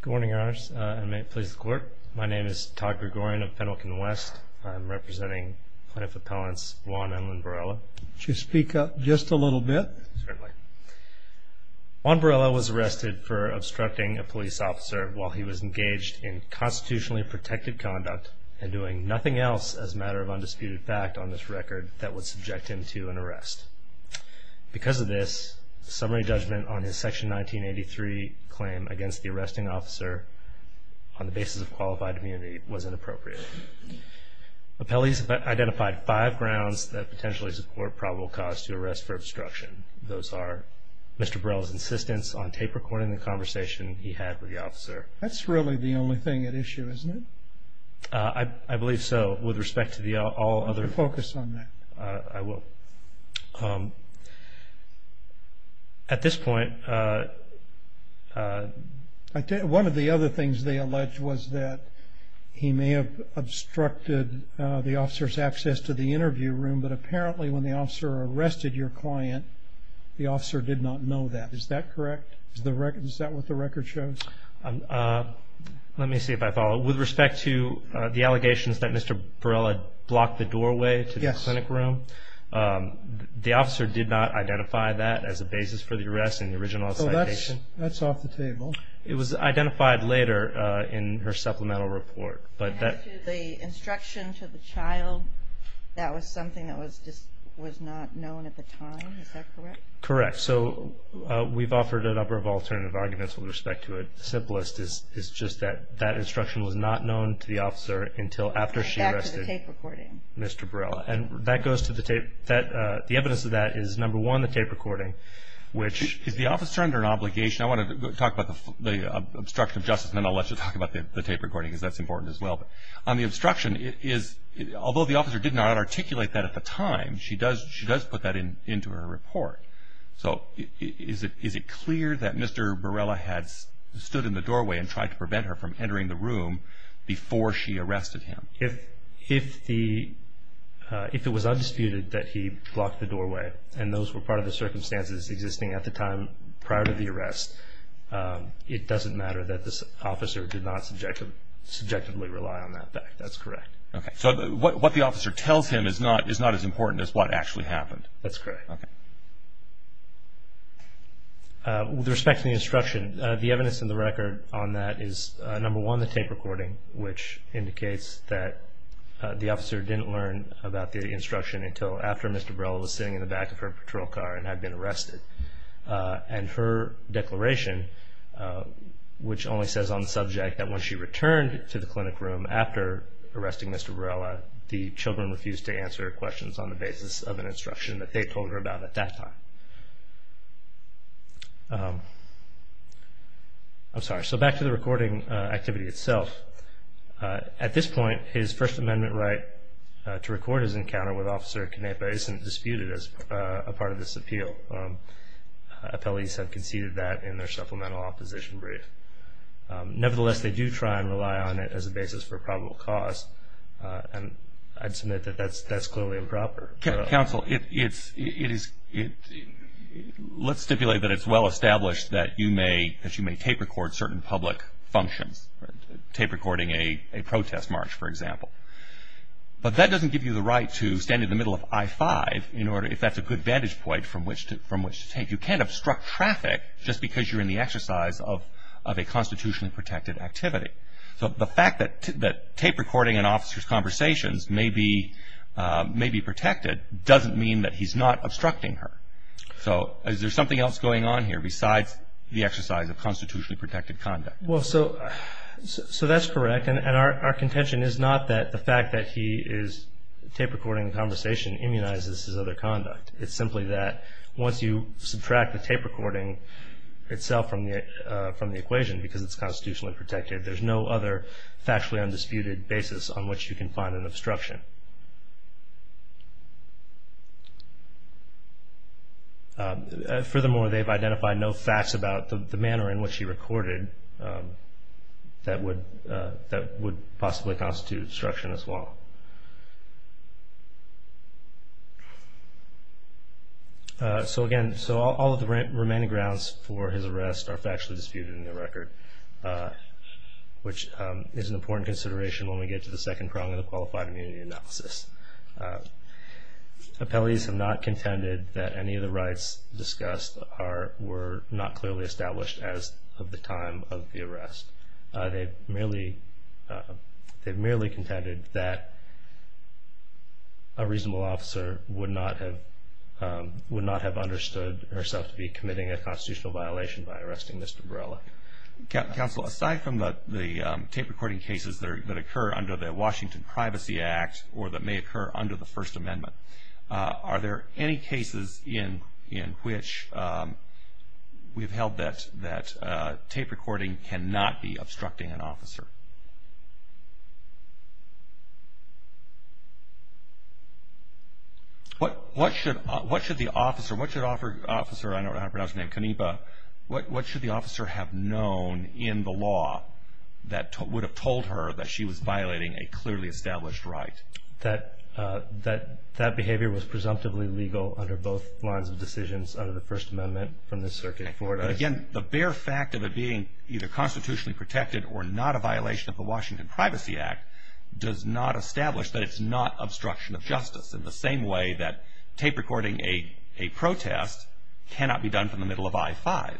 Good morning, Your Honors, and may it please the Court. My name is Todd Gregorian of Pendleton West. I am representing Plaintiff Appellants Juan and Lynn Barela. Could you speak up just a little bit? Certainly. Juan Barela was arrested for obstructing a police officer while he was engaged in constitutionally protected conduct and doing nothing else as a matter of undisputed fact on this record that would subject him to an arrest. Because of this, summary judgment on his Section 1983 claim against the arresting officer on the basis of qualified immunity was inappropriate. Appellees have identified five grounds that potentially support probable cause to arrest for obstruction. Those are Mr. Barela's insistence on tape recording the conversation he had with the officer. That's really the only thing at issue, isn't it? I believe so. With respect to all other... Focus on that. I will. At this point... One of the other things they alleged was that he may have obstructed the officer's access to the interview room, but apparently when the officer arrested your client, the officer did not know that. Is that correct? Is that what the record shows? Let me see if I follow. With respect to the allegations that Mr. Barela blocked the doorway to the clinic room, the officer did not identify that as a basis for the arrest in the original citation. That's off the table. It was identified later in her supplemental report. The instruction to the child, that was something that was not known at the time. Is that correct? Correct. So we've offered a number of alternative arguments with respect to it. The simplest is just that that instruction was not known to the officer until after she arrested Mr. Barela. And that goes to the tape. The evidence of that is, number one, the tape recording, which... Is the officer under an obligation? I want to talk about the obstruction of justice, and then I'll let you talk about the tape recording, because that's important as well. On the obstruction, although the officer did not articulate that at the time, she does put that into her report. So is it clear that Mr. Barela had stood in the doorway and tried to prevent her from entering the room before she arrested him? If it was undisputed that he blocked the doorway, and those were part of the circumstances existing at the time prior to the arrest, it doesn't matter that this officer did not subjectively rely on that fact. That's correct. So what the officer tells him is not as important as what actually happened. That's correct. With respect to the instruction, the evidence in the record on that is, number one, the tape recording, which indicates that the officer didn't learn about the instruction until after Mr. Barela was sitting in the back of her patrol car and had been arrested. And her declaration, which only says on the subject that when she returned to the clinic room after arresting Mr. Barela, the children refused to answer questions on the basis of an instruction that they told her about at that time. I'm sorry. So back to the recording activity itself. At this point, his First Amendment right to record his encounter with Officer Canepa isn't disputed as a part of this appeal. Appellees have conceded that in their supplemental opposition brief. Nevertheless, they do try and rely on it as a basis for probable cause, and I'd submit that that's clearly improper. Counsel, let's stipulate that it's well established that you may tape record certain public functions, tape recording a protest march, for example. But that doesn't give you the right to stand in the middle of I-5 if that's a good vantage point from which to tape. You can't obstruct traffic just because you're in the exercise of a constitutionally protected activity. So the fact that tape recording an officer's conversations may be protected doesn't mean that he's not obstructing her. So is there something else going on here besides the exercise of constitutionally protected conduct? Well, so that's correct, and our contention is not that the fact that he is tape recording a conversation immunizes his other conduct. It's simply that once you subtract the tape recording itself from the equation because it's constitutionally protected, there's no other factually undisputed basis on which you can find an obstruction. Furthermore, they've identified no facts about the manner in which he recorded that would possibly constitute obstruction as well. So again, all of the remaining grounds for his arrest are factually disputed in the record, which is an important consideration when we get to the second prong of the qualified immunity analysis. Appellees have not contended that any of the rights discussed were not clearly established as of the time of the arrest. They've merely contended that a reasonable officer would not have understood herself to be committing a constitutional violation by arresting Mr. Borrella. Counsel, aside from the tape recording cases that occur under the Washington Privacy Act or that may occur under the First Amendment, are there any cases in which we've held that tape recording cannot be obstructing an officer? What should the officer, I don't know how to pronounce her name, Kaniba, what should the officer have known in the law that would have told her that she was violating a clearly established right? That that behavior was presumptively legal under both lines of decisions under the First Amendment from the circuit court. Again, the bare fact of it being either constitutionally protected or not a violation of the Washington Privacy Act does not establish that it's not obstruction of justice in the same way that tape recording a protest cannot be done from the middle of I-5.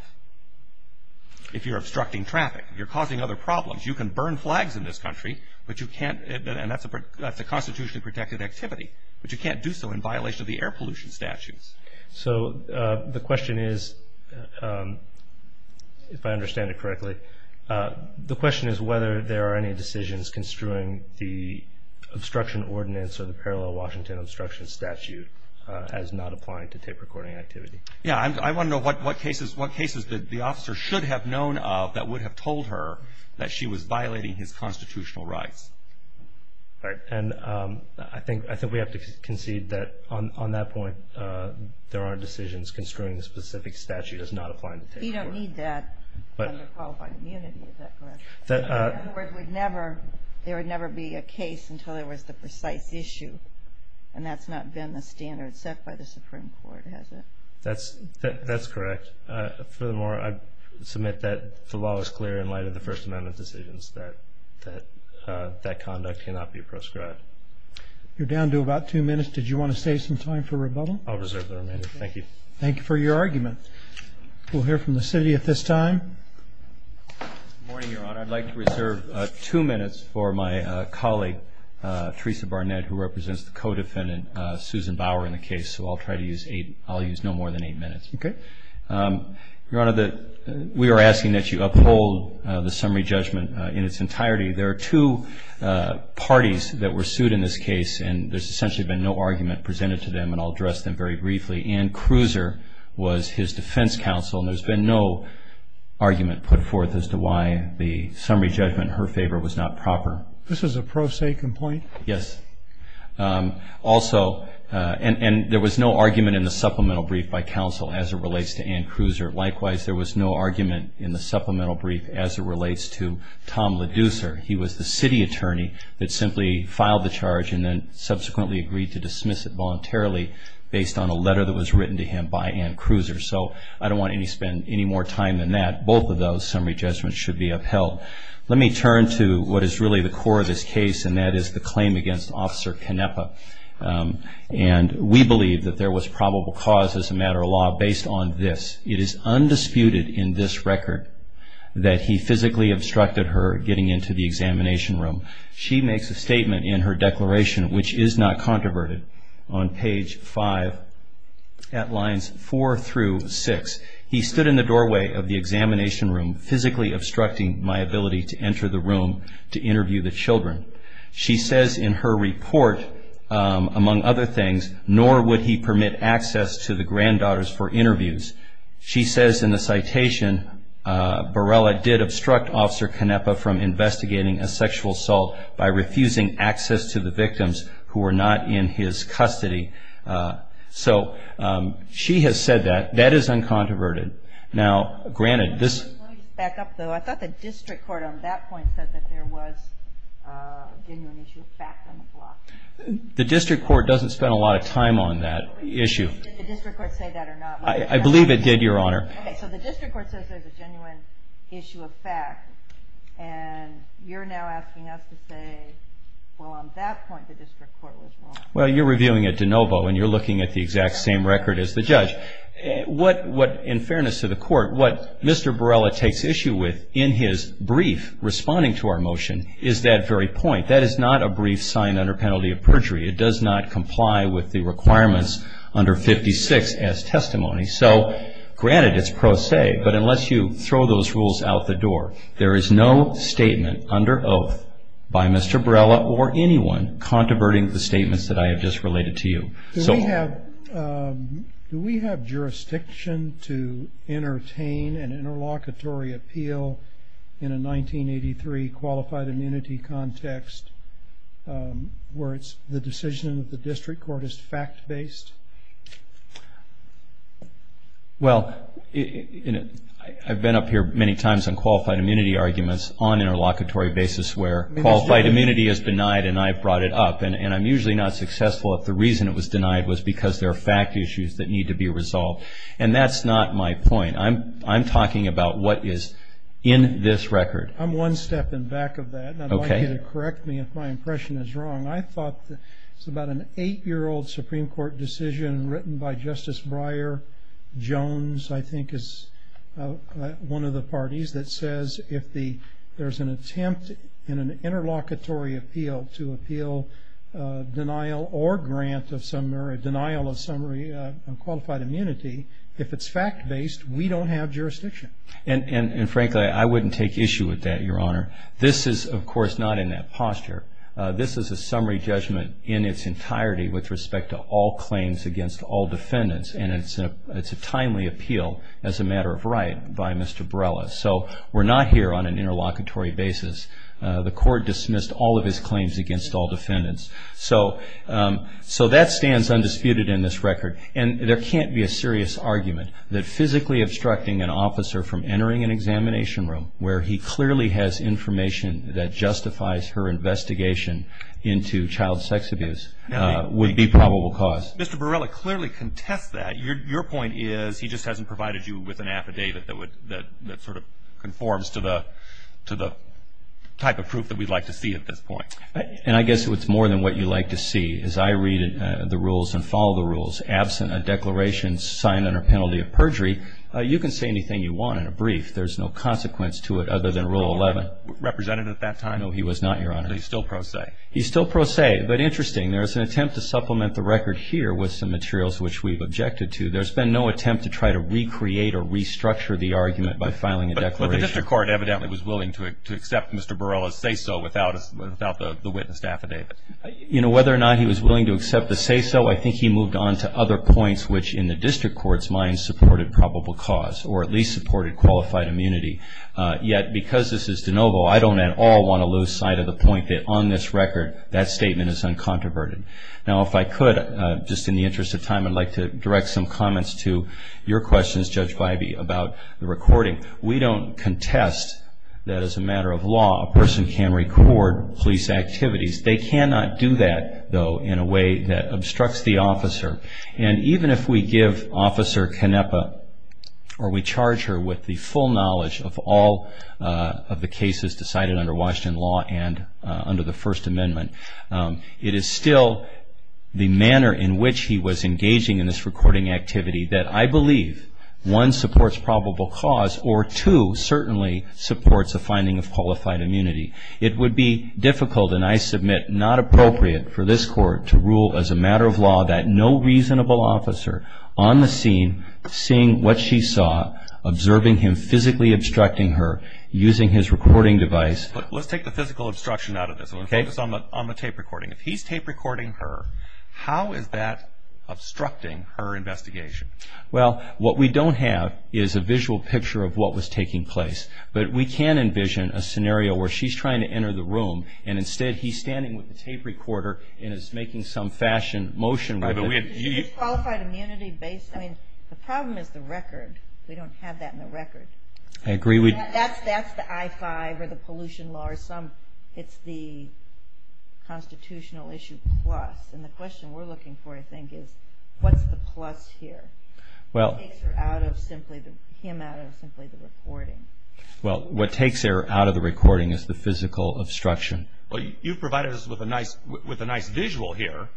If you're obstructing traffic, you're causing other problems. You can burn flags in this country, but you can't, and that's a constitutionally protected activity, but you can't do so in violation of the air pollution statutes. So the question is, if I understand it correctly, the question is whether there are any decisions construing the obstruction ordinance or the parallel Washington obstruction statute as not applying to tape recording activity. Yeah, I want to know what cases the officer should have known of that would have told her that she was violating his constitutional rights. Right, and I think we have to concede that on that point, there are decisions construing the specific statute as not applying to tape recording. You don't need that under qualifying immunity, is that correct? In other words, there would never be a case until there was the precise issue, and that's not been the standard set by the Supreme Court, has it? That's correct. Furthermore, I submit that the law is clear in light of the First Amendment decisions that that conduct cannot be proscribed. You're down to about two minutes. Did you want to save some time for rebuttal? I'll reserve the remainder. Thank you. Thank you for your argument. We'll hear from the city at this time. Good morning, Your Honor. I'd like to reserve two minutes for my colleague, Teresa Barnett, who represents the co-defendant, Susan Bauer, in the case, so I'll try to use no more than eight minutes. Okay. Your Honor, we are asking that you uphold the summary judgment in its entirety. There are two parties that were sued in this case, and there's essentially been no argument presented to them, and I'll address them very briefly. Ann Cruiser was his defense counsel, and there's been no argument put forth as to why the summary judgment in her favor was not proper. This is a pro se complaint? Yes. Also, and there was no argument in the supplemental brief by counsel as it relates to Ann Cruiser. Likewise, there was no argument in the supplemental brief as it relates to Tom Leducer. He was the city attorney that simply filed the charge and then subsequently agreed to dismiss it voluntarily based on a letter that was written to him by Ann Cruiser. So I don't want to spend any more time than that. Both of those summary judgments should be upheld. Let me turn to what is really the core of this case, and that is the claim against Officer Canepa. And we believe that there was probable cause as a matter of law based on this. It is undisputed in this record that he physically obstructed her getting into the examination room. She makes a statement in her declaration, which is not controverted, on page 5, at lines 4 through 6. He stood in the doorway of the examination room, physically obstructing my ability to enter the room to interview the children. She says in her report, among other things, nor would he permit access to the granddaughters for interviews. She says in the citation, Borrella did obstruct Officer Canepa from investigating a sexual assault by refusing access to the victims who were not in his custody. So she has said that. That is uncontroverted. Now, granted, this... Let me back up, though. I thought the district court on that point said that there was a genuine issue of fact on the block. The district court doesn't spend a lot of time on that issue. Did the district court say that or not? I believe it did, Your Honor. Okay, so the district court says there's a genuine issue of fact, and you're now asking us to say, well, on that point, the district court was wrong. Well, you're reviewing a de novo, and you're looking at the exact same record as the judge. What, in fairness to the court, what Mr. Borrella takes issue with in his brief responding to our motion is that very point. That is not a brief signed under penalty of perjury. It does not comply with the requirements under 56 as testimony. So, granted, it's pro se, but unless you throw those rules out the door, there is no statement under oath by Mr. Borrella or anyone controverting the statements that I have just related to you. Do we have jurisdiction to entertain an interlocutory appeal in a 1983 qualified immunity context where it's the decision of the district court is fact-based? Well, I've been up here many times on qualified immunity arguments on interlocutory basis where qualified immunity is denied, and I've brought it up, and I'm usually not successful if the reason it was denied was because there are fact issues that need to be resolved, and that's not my point. I'm talking about what is in this record. I'm one step in back of that, and I'd like you to correct me if my impression is wrong. I thought it was about an eight-year-old Supreme Court decision written by Justice Breyer. Jones, I think, is one of the parties that says if there's an attempt in an interlocutory appeal to appeal denial or grant of summary, denial of summary on qualified immunity, if it's fact-based, we don't have jurisdiction. And frankly, I wouldn't take issue with that, Your Honor. This is, of course, not in that posture. This is a summary judgment in its entirety with respect to all claims against all defendants, and it's a timely appeal as a matter of right by Mr. Brella. So we're not here on an interlocutory basis. The Court dismissed all of his claims against all defendants. So that stands undisputed in this record, and there can't be a serious argument that physically obstructing an officer from entering an examination room where he clearly has information that justifies her investigation into child sex abuse would be probable cause. Mr. Brella clearly contests that. Your point is he just hasn't provided you with an affidavit that sort of conforms to the type of proof that we'd like to see at this point. And I guess it's more than what you'd like to see. As I read the rules and follow the rules, absent a declaration signed under penalty of perjury, you can say anything you want in a brief. There's no consequence to it other than Rule 11. Was he a representative at that time? No, he was not, Your Honor. So he's still pro se. He's still pro se, but interesting. There's an attempt to supplement the record here with some materials which we've objected to. There's been no attempt to try to recreate or restructure the argument by filing a declaration. But the district court evidently was willing to accept Mr. Brella's say-so without the witness affidavit. You know, whether or not he was willing to accept the say-so, I think he moved on to other points, which in the district court's mind supported probable cause or at least supported qualified immunity. Yet because this is de novo, I don't at all want to lose sight of the point that on this record, that statement is uncontroverted. Now, if I could, just in the interest of time, I'd like to direct some comments to your questions, Judge Bybee, about the recording. We don't contest that as a matter of law a person can record police activities. They cannot do that, though, in a way that obstructs the officer. And even if we give Officer Canepa or we charge her with the full knowledge of all of the cases decided under Washington law and under the First Amendment, it is still the manner in which he was engaging in this recording activity that I believe, one, supports probable cause, or two, certainly supports a finding of qualified immunity. It would be difficult and, I submit, not appropriate for this court to rule as a matter of law that no reasonable officer on the scene seeing what she saw, observing him physically obstructing her, using his recording device. Let's take the physical obstruction out of this one. Focus on the tape recording. If he's tape recording her, how is that obstructing her investigation? Well, what we don't have is a visual picture of what was taking place. But we can envision a scenario where she's trying to enter the room and instead he's standing with the tape recorder and is making some fashion motion with it. Is this qualified immunity based? I mean, the problem is the record. We don't have that in the record. I agree. That's the I-5 or the pollution law. It's the constitutional issue plus. And the question we're looking for, I think, is what's the plus here? What takes him out of simply the recording? Well, what takes her out of the recording is the physical obstruction. Well, you've provided us with a nice visual here,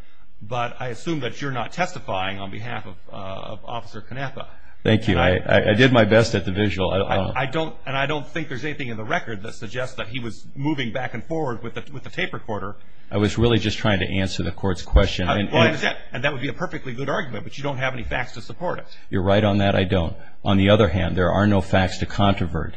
but I assume that you're not testifying on behalf of Officer Canaffa. Thank you. I did my best at the visual. And I don't think there's anything in the record that suggests that he was moving back and forward with the tape recorder. I was really just trying to answer the court's question. And that would be a perfectly good argument, but you don't have any facts to support it. You're right on that. I don't. On the other hand, there are no facts to controvert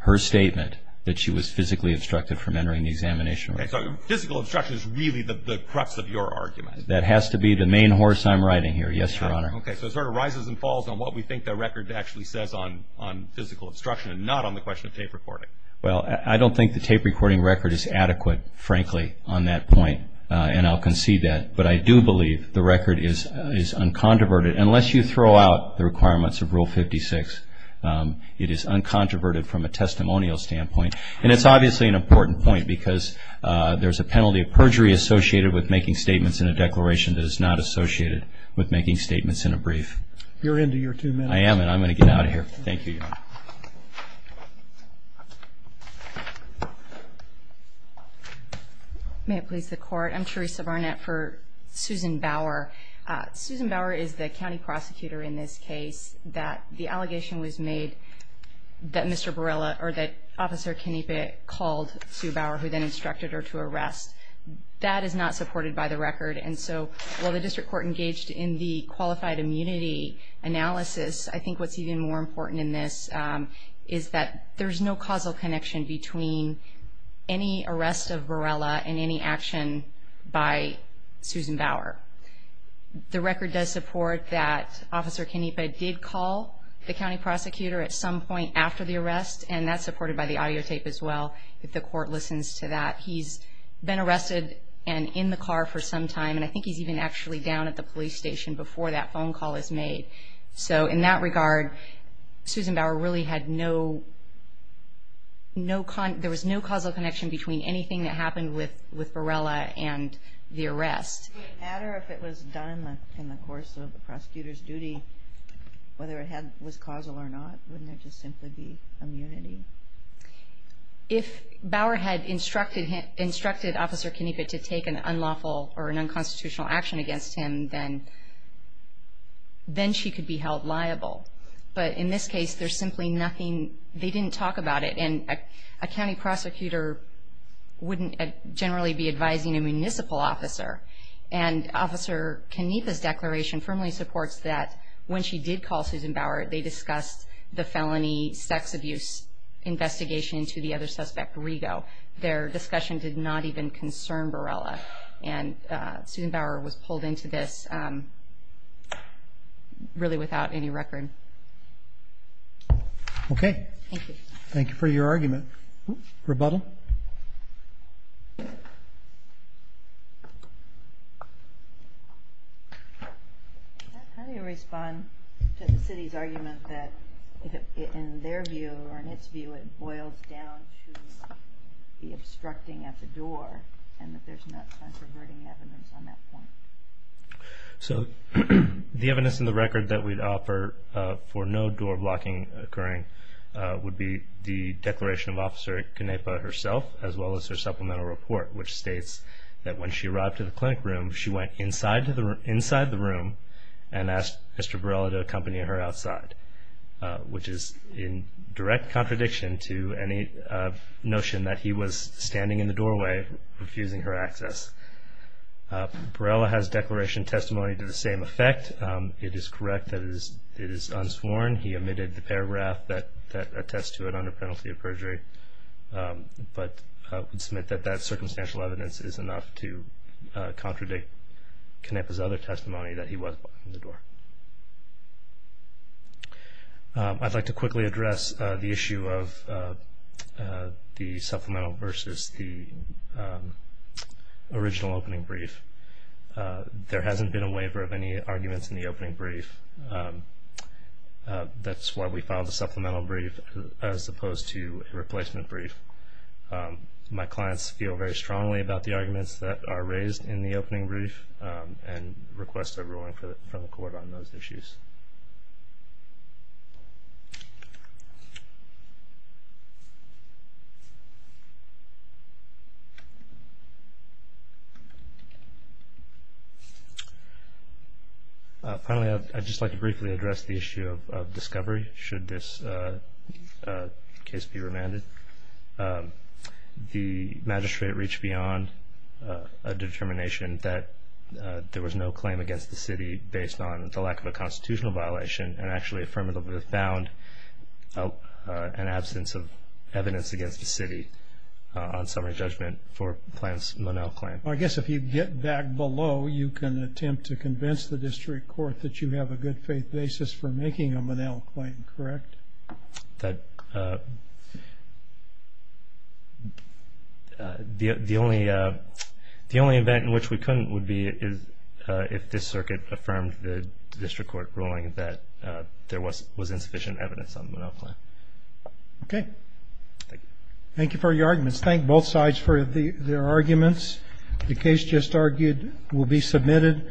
her statement that she was physically obstructed from entering the examination room. Okay. So physical obstruction is really the crux of your argument. That has to be the main horse I'm riding here. Yes, Your Honor. Okay. So it sort of rises and falls on what we think the record actually says on physical obstruction and not on the question of tape recording. Well, I don't think the tape recording record is adequate, frankly, on that point, and I'll concede that. But I do believe the record is uncontroverted. Unless you throw out the requirements of Rule 56, it is uncontroverted from a testimonial standpoint. And it's obviously an important point, because there's a penalty of perjury associated with making statements in a declaration that is not associated with making statements in a brief. You're into your two minutes. I am, and I'm going to get out of here. Thank you, Your Honor. May it please the Court. I'm Teresa Barnett for Susan Bauer. Susan Bauer is the county prosecutor in this case. The allegation was made that Mr. Barella or that Officer Canepa called Sue Bauer, who then instructed her to arrest. That is not supported by the record. And so while the district court engaged in the qualified immunity analysis, I think what's even more important in this is that there's no causal connection between any arrest of Barella and any action by Susan Bauer. The record does support that Officer Canepa did call the county prosecutor at some point after the arrest, and that's supported by the audio tape as well, if the court listens to that. He's been arrested and in the car for some time, and I think he's even actually down at the police station before that phone call is made. So in that regard, Susan Bauer really had no, there was no causal connection between anything that happened with Barella and the arrest. Would it matter if it was done in the course of the prosecutor's duty, whether it was causal or not? Wouldn't it just simply be immunity? If Bauer had instructed Officer Canepa to take an unlawful or an unconstitutional action against him, then she could be held liable. But in this case, there's simply nothing, they didn't talk about it. And a county prosecutor wouldn't generally be advising a municipal officer. And Officer Canepa's declaration firmly supports that when she did call Susan Bauer, they discussed the felony sex abuse investigation to the other suspect, Rigo. Their discussion did not even concern Barella. And Susan Bauer was pulled into this really without any record. Okay. Thank you. Thank you for your argument. Rebuttal? How do you respond to the city's argument that in their view or in its view, it boils down to the obstructing at the door and that there's not controverting evidence on that point? So the evidence in the record that we'd offer for no door blocking occurring would be the declaration of Officer Canepa herself as well as her supplemental report, which states that when she arrived to the clinic room, she went inside the room and asked Mr. Barella to accompany her outside, which is in direct contradiction to any notion that he was standing in the doorway refusing her access. Barella has declaration testimony to the same effect. It is correct that it is unsworn. He omitted the paragraph that attests to it under penalty of perjury. But I would submit that that circumstantial evidence is enough to contradict Canepa's other testimony that he was blocking the door. I'd like to quickly address the issue of the supplemental versus the original opening brief. There hasn't been a waiver of any arguments in the opening brief. That's why we filed a supplemental brief as opposed to a replacement brief. My clients feel very strongly about the arguments that are raised in the opening brief and request a ruling from the court on those issues. Finally, I'd just like to briefly address the issue of discovery, should this case be remanded. The magistrate reached beyond a determination that there was no claim against the city based on the lack of a constitutional violation and actually affirmatively found an absence of evidence against the city on summary judgment for Monell's claim. I guess if you get back below, you can attempt to convince the district court that you have a good faith basis for making a Monell claim, correct? The only event in which we couldn't would be if this circuit affirmed the district court ruling that there was insufficient evidence on the Monell claim. Okay. Thank you for your arguments. Thank both sides for their arguments. The case just argued will be submitted.